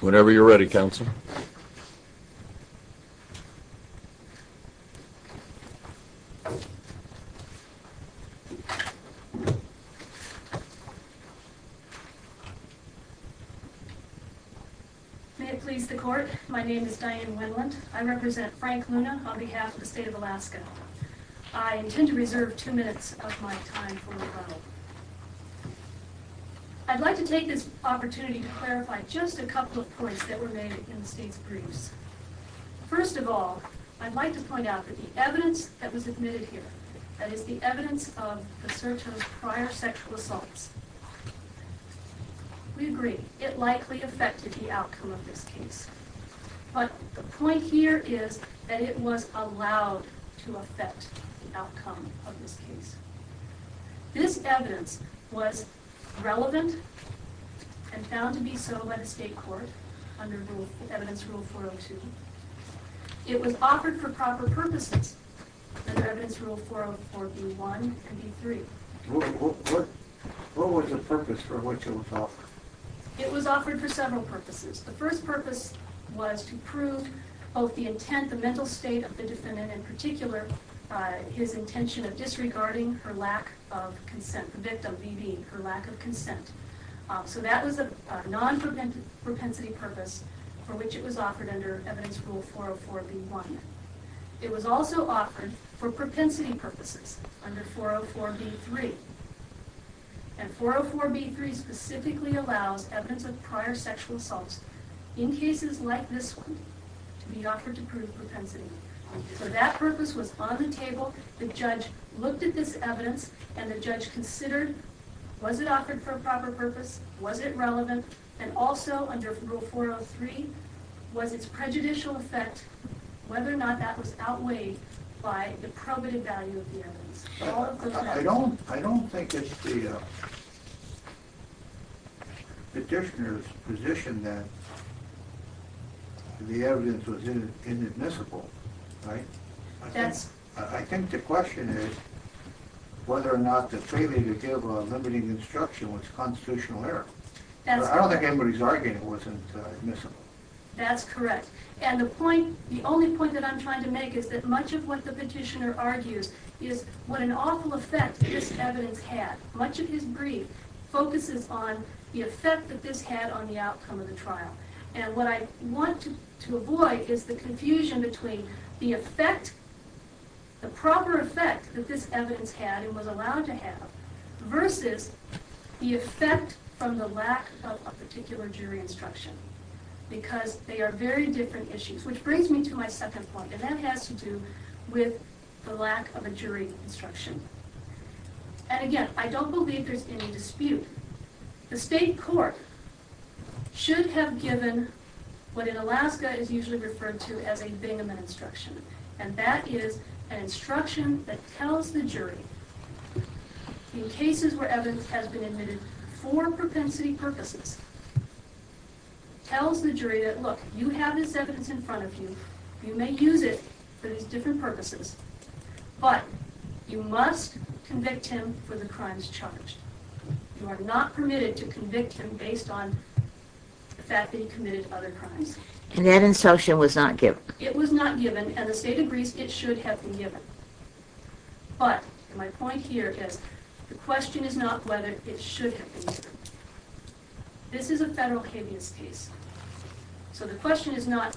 Whenever you're ready, counsel. May it please the court. My name is Diane Winland. I represent Frank Luna on behalf of the state of Alaska. I intend to reserve two minutes of my time for rebuttal. I'd like to take this opportunity to clarify just a couple of points that were made in the state's briefs. First of all, I'd like to point out that the evidence that was admitted here, that is the evidence of Basurto's prior sexual assaults, We agree. It likely affected the outcome of this case. But the point here is that it was allowed to affect the outcome of this case. This evidence was relevant and found to be so by the state court under Evidence Rule 402. It was offered for proper purposes under Evidence Rule 404b1 and b3. What was the purpose for which it was offered? It was offered for several purposes. The first purpose was to prove both the intent, the mental state of the defendant in particular, his intention of disregarding her lack of consent, the victim, being her lack of consent. So that was a non-propensity purpose for which it was offered under Evidence Rule 404b1. It was also offered for propensity purposes under Evidence Rule 404b3. And Evidence Rule 404b3 specifically allows evidence of prior sexual assaults in cases like this one to be offered to prove propensity. So that purpose was on the table. The judge looked at this evidence and the judge considered, was it offered for a proper purpose? Was it relevant? And also under Rule 403, was its prejudicial effect, whether or not that was outweighed by the probative value of the evidence? I don't think it's the petitioner's position that the evidence was inadmissible, right? I think the question is whether or not the failure to give a limiting instruction was constitutional error. I don't think anybody's arguing it wasn't admissible. That's correct. And the only point that I'm trying to make is that much of what the petitioner argues is what an awful effect this evidence had. Much of his brief focuses on the effect that this had on the outcome of the trial. And what I want to avoid is the confusion between the effect, the proper effect that this evidence had and was allowed to have, versus the effect from the lack of a particular jury instruction. Because they are very different issues. Which brings me to my second point, and that has to do with the lack of a jury instruction. And again, I don't believe there's any dispute. The state court should have given what in Alaska is usually referred to as a Bingaman instruction. And that is an instruction that tells the jury, in cases where evidence has been admitted for propensity purposes, tells the jury that, look, you have this evidence in front of you, you may use it for these different purposes, but you must convict him for the crimes charged. You are not permitted to convict him based on the fact that he committed other crimes. And that instruction was not given. It was not given, and the state agrees it should have been given. But my point here is, the question is not whether it should have been given. This is a federal habeas case. So the question is not,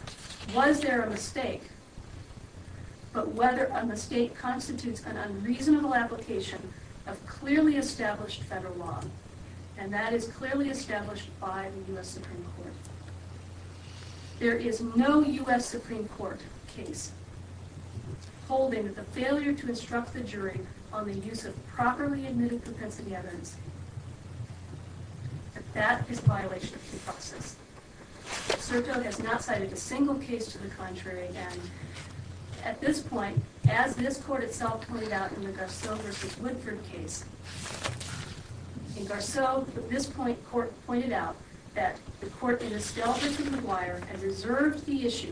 was there a mistake? But whether a mistake constitutes an unreasonable application of clearly established federal law. And that is clearly established by the U.S. Supreme Court. There is no U.S. Supreme Court case holding that the failure to instruct the jury on the use of properly admitted propensity evidence, that that is a violation of due process. Sertog has not cited a single case to the contrary. And at this point, as this court itself pointed out in the Garceau v. Woodford case, in Garceau, this court pointed out that the court in Estelle v. McGuire has reserved the issue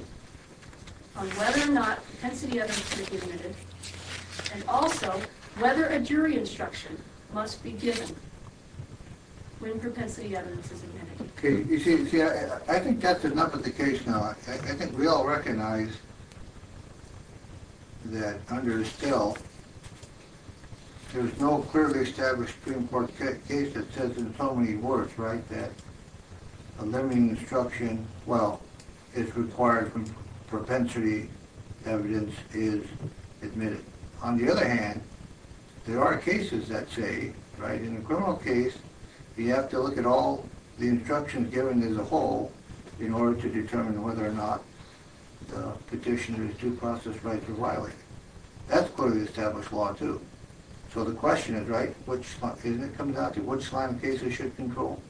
on whether or not propensity evidence should be admitted, and also whether a jury instruction must be given when propensity evidence is admitted. Okay, you see, I think that's enough of the case now. I think we all recognize that under Estelle, there's no clearly established Supreme Court case that says in so many words, right, that a limiting instruction, well, is required when propensity evidence is admitted. On the other hand, there are cases that say, right, in a criminal case, you have to look at all the instructions given as a whole in order to determine whether or not the petitioner's due process rights are violated. That's clearly established law, too. So the question is, right, isn't it coming down to which line of cases should control?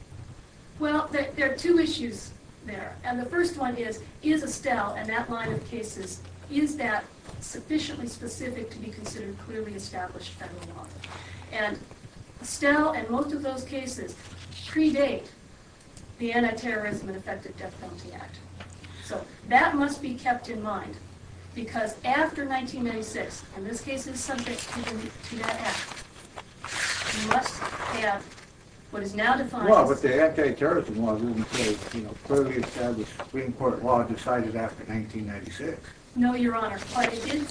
Well, there are two issues there. And the first one is, is Estelle and that line of cases, is that sufficiently specific to be considered clearly established federal law? And Estelle and most of those cases predate the Anti-Terrorism and Effective Death Penalty Act. So that must be kept in mind, because after 1996, and this case is subject to that act, you must have what is now defined as... Well, but the Anti-Terrorism Law is clearly established Supreme Court law decided after 1996. No, Your Honor. But it did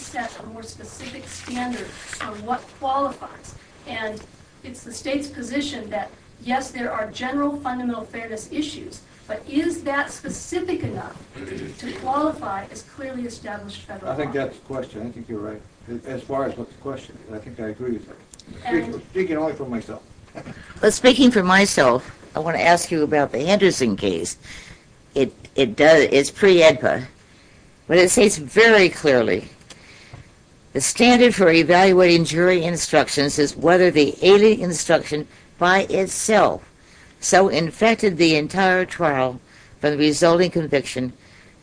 set a more specific standard on what qualifies. And it's the state's position that, yes, there are general fundamental fairness issues, but is that specific enough to qualify as clearly established federal law? I think that's the question. I think you're right. As far as what the question is, I think I agree with that. Speaking only for myself. Speaking for myself, I want to ask you about the Anderson case. It's pre-EDPA, but it states very clearly, the standard for evaluating jury instructions is whether the alien instruction by itself so infected the entire trial for the resulting conviction,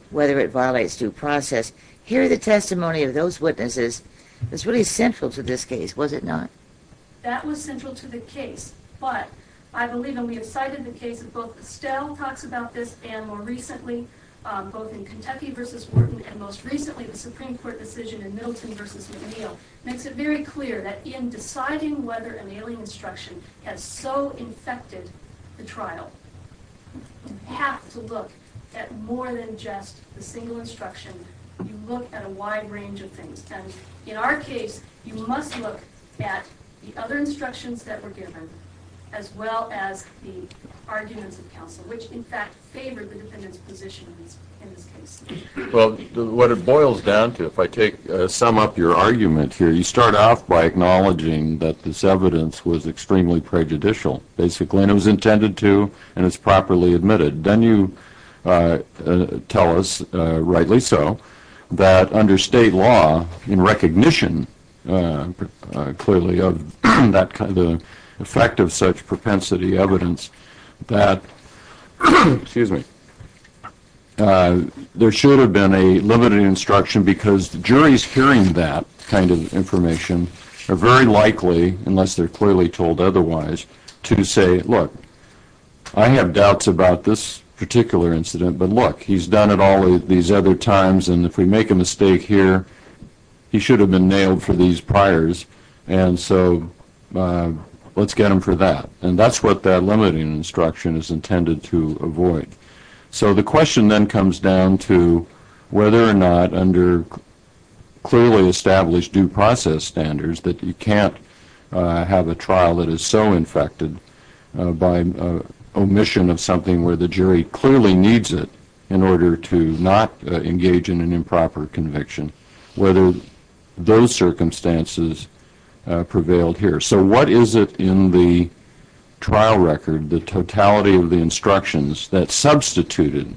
whether it violates due process. Here are the testimony of those witnesses. It's really central to this case, was it not? That was central to the case. But I believe, and we have cited the case, and both Estelle talks about this, and more recently, both in Kentucky v. Wharton, and most recently the Supreme Court decision in Middleton v. McNeil, makes it very clear that in deciding whether an alien instruction has so infected the trial, you have to look at more than just the single instruction. You look at a wide range of things. And in our case, you must look at the other instructions that were given as well as the arguments of counsel, which in fact favored the defendant's position in this case. Well, what it boils down to, if I take some of your argument here, you start off by acknowledging that this evidence was extremely prejudicial, basically, and it was intended to, and it's properly admitted. Then you tell us, rightly so, that under state law, in recognition, clearly, of the effect of such propensity evidence that there should have been a limited instruction because the juries hearing that kind of information are very likely, unless they're clearly told otherwise, to say, look, I have doubts about this particular incident, but look, he's done it all these other times, and if we make a mistake here, he should have been nailed for these priors, and so let's get him for that. And that's what that limiting instruction is intended to avoid. So the question then comes down to whether or not under clearly established due process standards that you can't have a trial that is so infected by omission of something where the jury clearly needs it in order to not engage in an improper conviction, whether those circumstances prevailed here. So what is it in the trial record, the totality of the instructions, that substituted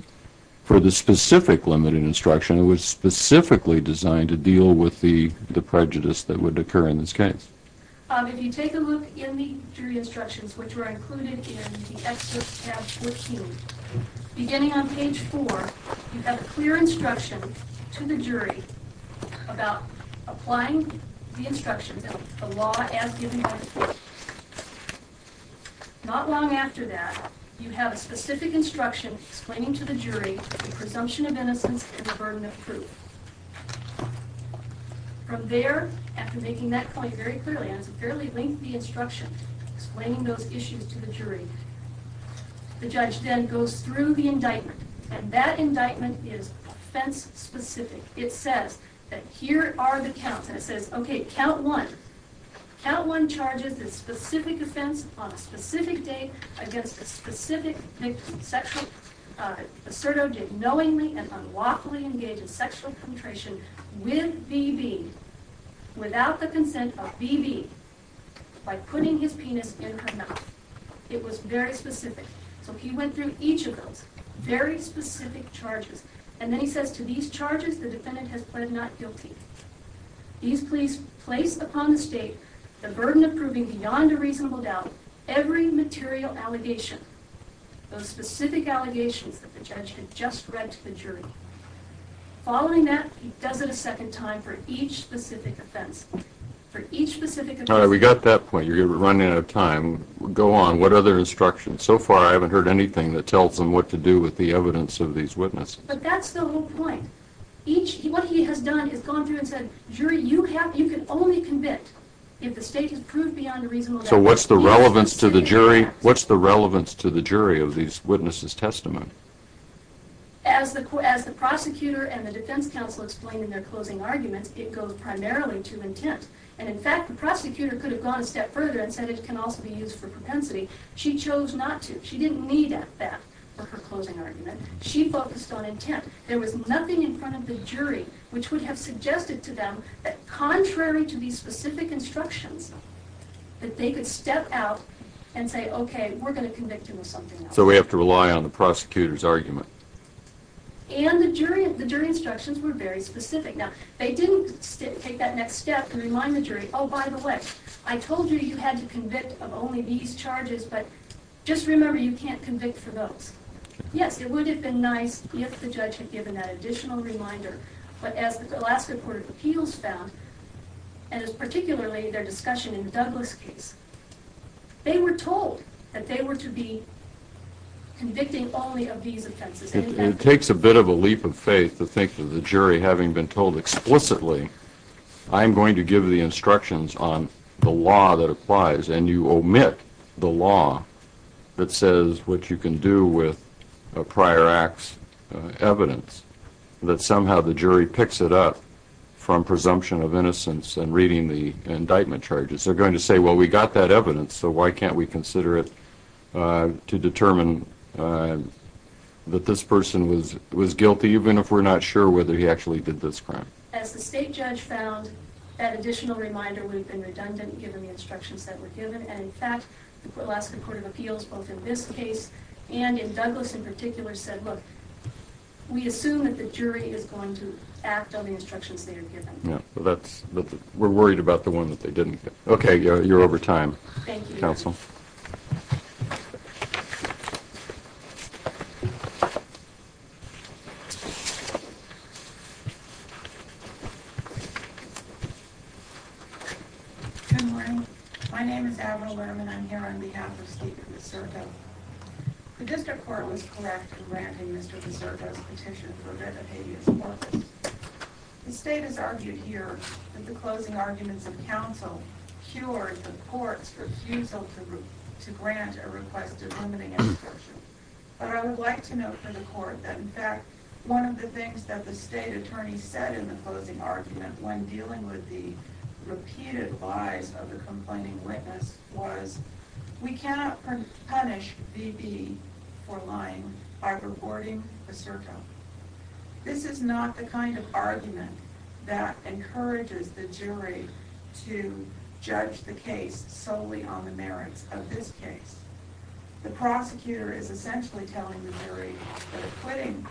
for the specific limited instruction that was specifically designed to deal with the prejudice that would occur in this case? If you take a look in the jury instructions, which are included in the excerpt tab with Hume, beginning on page 4, you have a clear instruction to the jury about applying the instructions, the law as given by the court. Not long after that, you have a specific instruction explaining to the jury the presumption of innocence and the burden of proof. From there, after making that point very clearly, and it's a fairly lengthy instruction, explaining those issues to the jury, the judge then goes through the indictment, and that indictment is offense-specific. It says that here are the counts, and it says, okay, count 1. Count 1 charges the specific offense on a specific date against a specific victim. Serto did knowingly and unlawfully engage in sexual penetration with B.B., without the consent of B.B., by putting his penis in her mouth. It was very specific. So he went through each of those very specific charges. And then he says, to these charges, the defendant has pled not guilty. These pleas place upon the state the burden of proving beyond a reasonable doubt every material allegation, those specific allegations that the judge had just read to the jury. Following that, he does it a second time for each specific offense. All right, we got that point. You're running out of time. Go on. What other instructions? So far I haven't heard anything that tells them what to do with the evidence of these witnesses. But that's the whole point. What he has done is gone through and said, jury, you can only convict if the state has proved beyond a reasonable doubt. So what's the relevance to the jury of these witnesses' testimony? As the prosecutor and the defense counsel explain in their closing arguments, it goes primarily to intent. And, in fact, the prosecutor could have gone a step further and said it can also be used for propensity. She chose not to. She didn't need that for her closing argument. She focused on intent. There was nothing in front of the jury which would have suggested to them that contrary to these specific instructions that they could step out and say, okay, we're going to convict him of something else. So we have to rely on the prosecutor's argument. And the jury instructions were very specific. Now, they didn't take that next step and remind the jury, oh, by the way, I told you you had to convict of only these charges, but just remember you can't convict for those. Yes, it would have been nice if the judge had given that additional reminder. But as the Alaska Court of Appeals found, and it's particularly their discussion in Douglas' case, they were told that they were to be convicting only of these offenses. It takes a bit of a leap of faith to think that the jury, having been told explicitly, I'm going to give the instructions on the law that applies, and you omit the law that says what you can do with a prior act's evidence, that somehow the jury picks it up from presumption of innocence and reading the indictment charges. They're going to say, well, we got that evidence, so why can't we consider it to determine that this person was guilty, even if we're not sure whether he actually did this crime. As the state judge found, that additional reminder would have been redundant given the instructions that were given. In fact, the Alaska Court of Appeals, both in this case and in Douglas in particular, said, look, we assume that the jury is going to act on the instructions they are given. We're worried about the one that they didn't. Okay, you're over time. Thank you. Counsel. Good morning. My name is Avril Lerman. I'm here on behalf of Stephen Misurko. The district court was correct in granting Mr. Misurko's petition for a death of habeas corpus. The state has argued here that the closing arguments of counsel cured the court's refusal to grant a request of limiting an assertion. But I would like to note for the court that, in fact, one of the things that the state attorney said in the closing argument when dealing with the repeated lies of the complaining witness was, we cannot punish V.B. for lying by rewarding Misurko. This is not the kind of argument that encourages the jury to judge the case solely on the merits of this case. The prosecutor is essentially telling the jury that quitting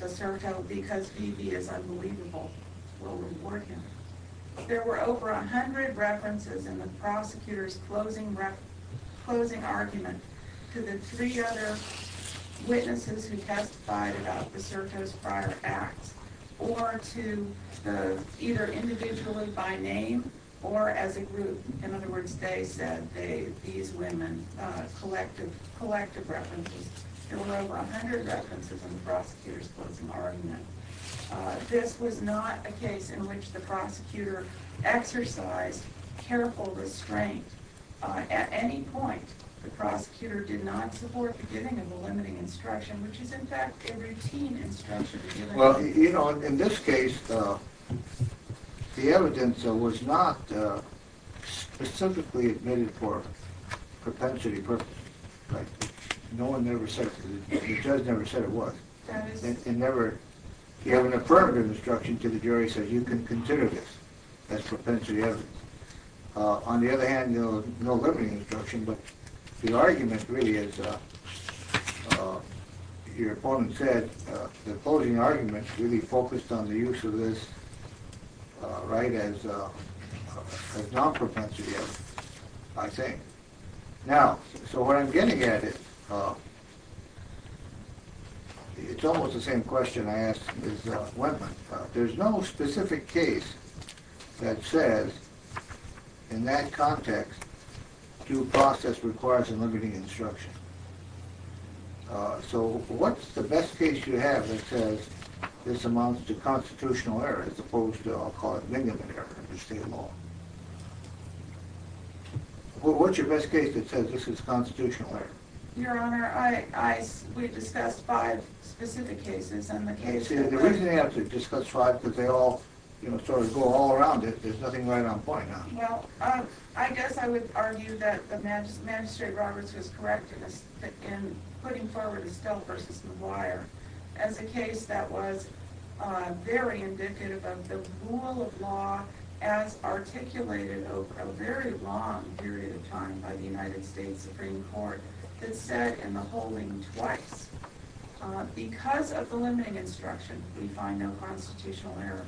Misurko because V.B. is unbelievable will reward him. There were over 100 references in the prosecutor's closing argument to the three other witnesses who testified about Misurko's prior acts or to either individually by name or as a group. In other words, they said these women collective references. There were over 100 references in the prosecutor's closing argument. This was not a case in which the prosecutor exercised careful restraint. At any point, the prosecutor did not support the giving of a limiting instruction, which is, in fact, a routine instruction. In this case, the evidence was not specifically admitted for propensity purposes. No one ever said it was. You have an affirmative instruction to the jury that says you can consider this as propensity evidence. On the other hand, there was no limiting instruction, but the argument really is, as your opponent said, the closing argument really focused on the use of this as non-propensity evidence, I think. Now, so what I'm getting at is it's almost the same question I asked Ms. Wentman. There's no specific case that says, in that context, due process requires a limiting instruction. So what's the best case you have that says this amounts to constitutional error as opposed to, I'll call it, minimum error under state law? Well, what's your best case that says this is constitutional error? Your Honor, we discussed five specific cases. The reason you have to discuss five is because they all sort of go all around it. There's nothing right on point, huh? Well, I guess I would argue that the magistrate Roberts was correct in putting forward Estelle v. McGuire as a case that was very indicative of the rule of law as articulated over a very long period of time by the United States Supreme Court that said in the holding twice, because of the limiting instruction, we find no constitutional error.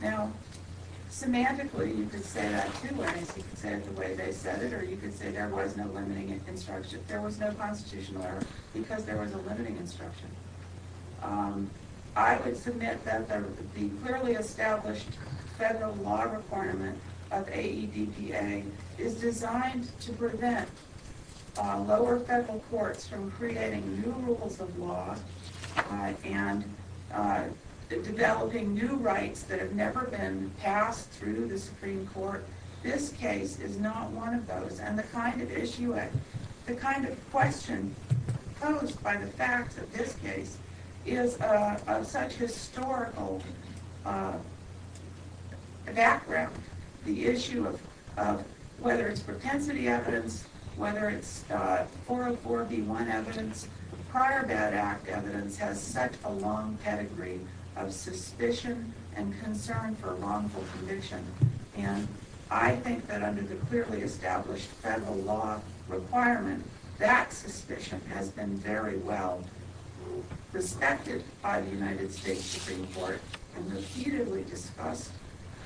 Now, semantically, you could say that, too. I mean, you could say it the way they said it, or you could say there was no limiting instruction. I would submit that the clearly established federal law requirement of AEDPA is designed to prevent lower federal courts from creating new rules of law and developing new rights that have never been passed through the Supreme Court. This case is not one of those. And the kind of question posed by the facts of this case is of such historical background. The issue of whether it's propensity evidence, whether it's 404B1 evidence, prior bad act evidence has such a long pedigree of suspicion and concern for wrongful conviction. And I think that under the clearly established federal law requirement, that suspicion has been very well respected by the United States Supreme Court and repeatedly discussed.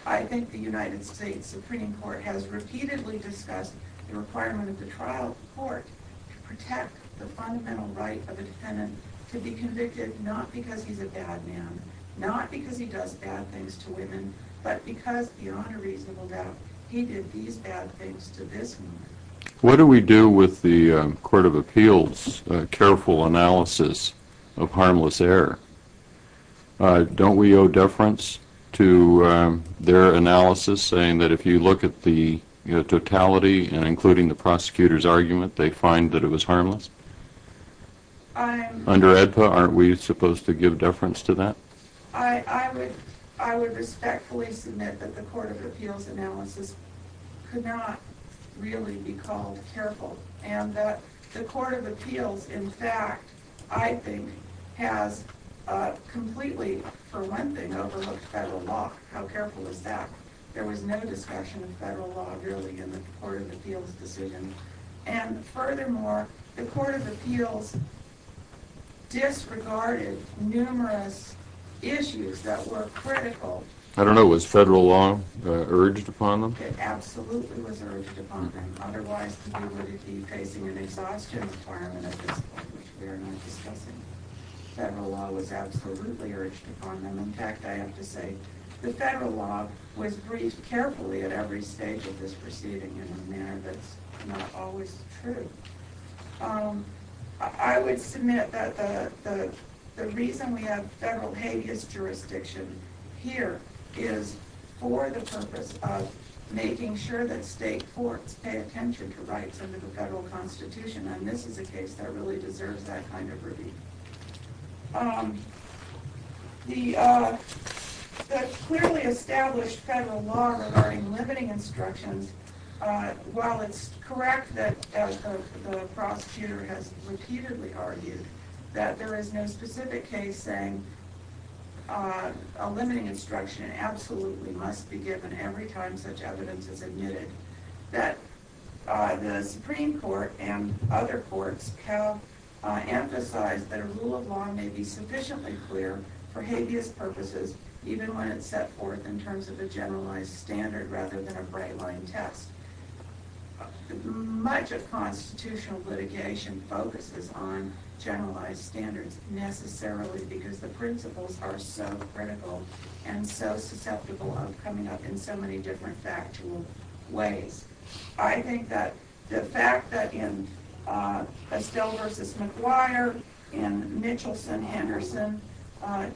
I think the United States Supreme Court has repeatedly discussed the requirement of the trial court to protect the fundamental right of a defendant to be convicted not because he's a bad man, not because he does bad things to women, but because, beyond a reasonable doubt, he did these bad things to this woman. What do we do with the Court of Appeals' careful analysis of harmless error? Don't we owe deference to their analysis saying that if you look at the totality, including the prosecutor's argument, they find that it was harmless? Under AEDPA, aren't we supposed to give deference to that? I would respectfully submit that the Court of Appeals' analysis could not really be called careful and that the Court of Appeals, in fact, I think, has completely, for one thing, overlooked federal law. How careful is that? There was no discussion of federal law, really, in the Court of Appeals' decision. And furthermore, the Court of Appeals disregarded numerous issues that were critical. I don't know. Was federal law urged upon them? It absolutely was urged upon them. Otherwise, we would be facing an exhaustion requirement at this point, which we are not discussing. Federal law was absolutely urged upon them. In fact, I have to say, the federal law was briefed carefully at every stage of this proceeding in a manner that's not always true. I would submit that the reason we have federal habeas jurisdiction here is for the purpose of making sure that state courts pay attention to rights under the federal Constitution, and this is a case that really deserves that kind of review. The clearly established federal law regarding limiting instructions, while it's correct that the prosecutor has repeatedly argued that there is no specific case saying a limiting instruction absolutely must be given every time such evidence is admitted, the Supreme Court and other courts have emphasized that a rule of law may be sufficiently clear for habeas purposes even when it's set forth in terms of a generalized standard rather than a bright-line test. Much of constitutional litigation focuses on generalized standards necessarily because the principles are so critical and so susceptible of coming up in so many different factual ways. I think that the fact that in Estelle v. McGuire, in Mitchelson-Henderson,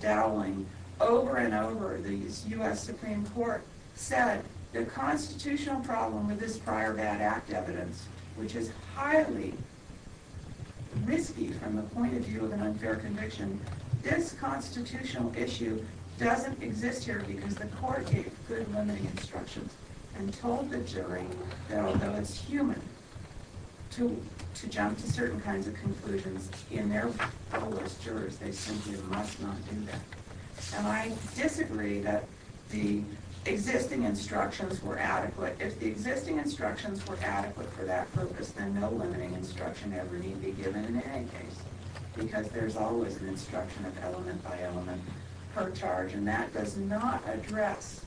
Dowling, over and over the U.S. Supreme Court said the constitutional problem with this prior bad act evidence, which is highly risky from the point of view of an unfair conviction, this constitutional issue doesn't exist here because the court gave good limiting instructions and told the jury that although it's human to jump to certain kinds of conclusions, in their role as jurors they simply must not do that. And I disagree that the existing instructions were adequate. If the existing instructions were adequate for that purpose, then no limiting instruction ever need be given in any case because there's always an instruction of element by element per charge, and that does not address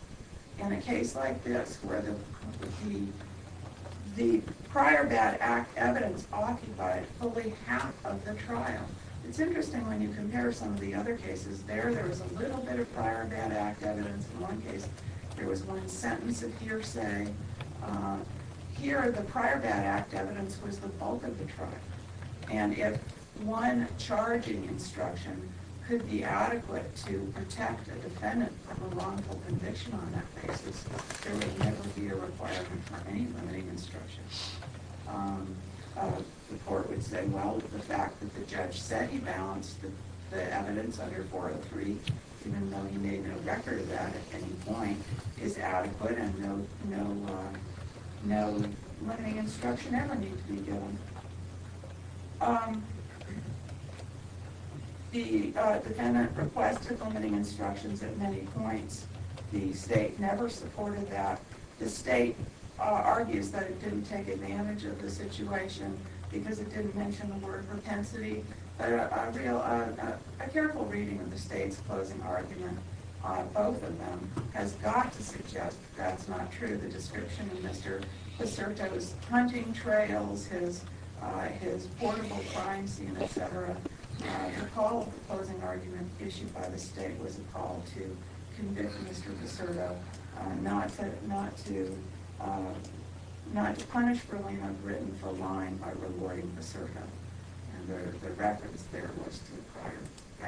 in a case like this where the prior bad act evidence occupied fully half of the trial. It's interesting when you compare some of the other cases. There, there was a little bit of prior bad act evidence in one case. There was one sentence of hearsay. Here, the prior bad act evidence was the bulk of the trial. And if one charging instruction could be adequate to protect a defendant from a wrongful conviction on that basis, there would never be a requirement for any limiting instruction. The court would say, well, the fact that the judge said he balanced the evidence under 403, even though he made no record of that at any point, is adequate and no limiting instruction ever need to be given. The defendant requested limiting instructions at many points. The state never supported that. The state argues that it didn't take advantage of the situation because it didn't mention the word propensity. A careful reading of the state's closing argument, both of them, has got to suggest that's not true. The description of Mr. Viserto's hunting trails, his horrible crime scene, etc., the call of the closing argument issued by the state was a call to convict Mr. Viserto, not to punish Verlina Gritton for lying by rewarding Viserto. And the reference there was to prior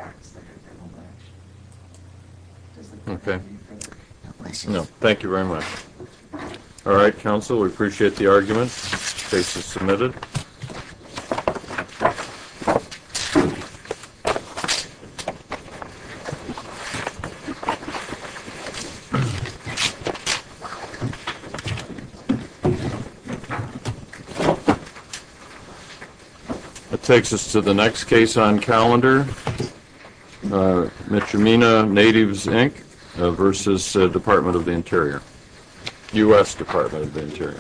acts that had been alleged. Does the court have any further questions? No, thank you very much. All right, counsel, we appreciate the argument. Case is submitted. That takes us to the next case on calendar, Mitromina Natives, Inc., versus Department of the Interior, U.S. Department of the Interior.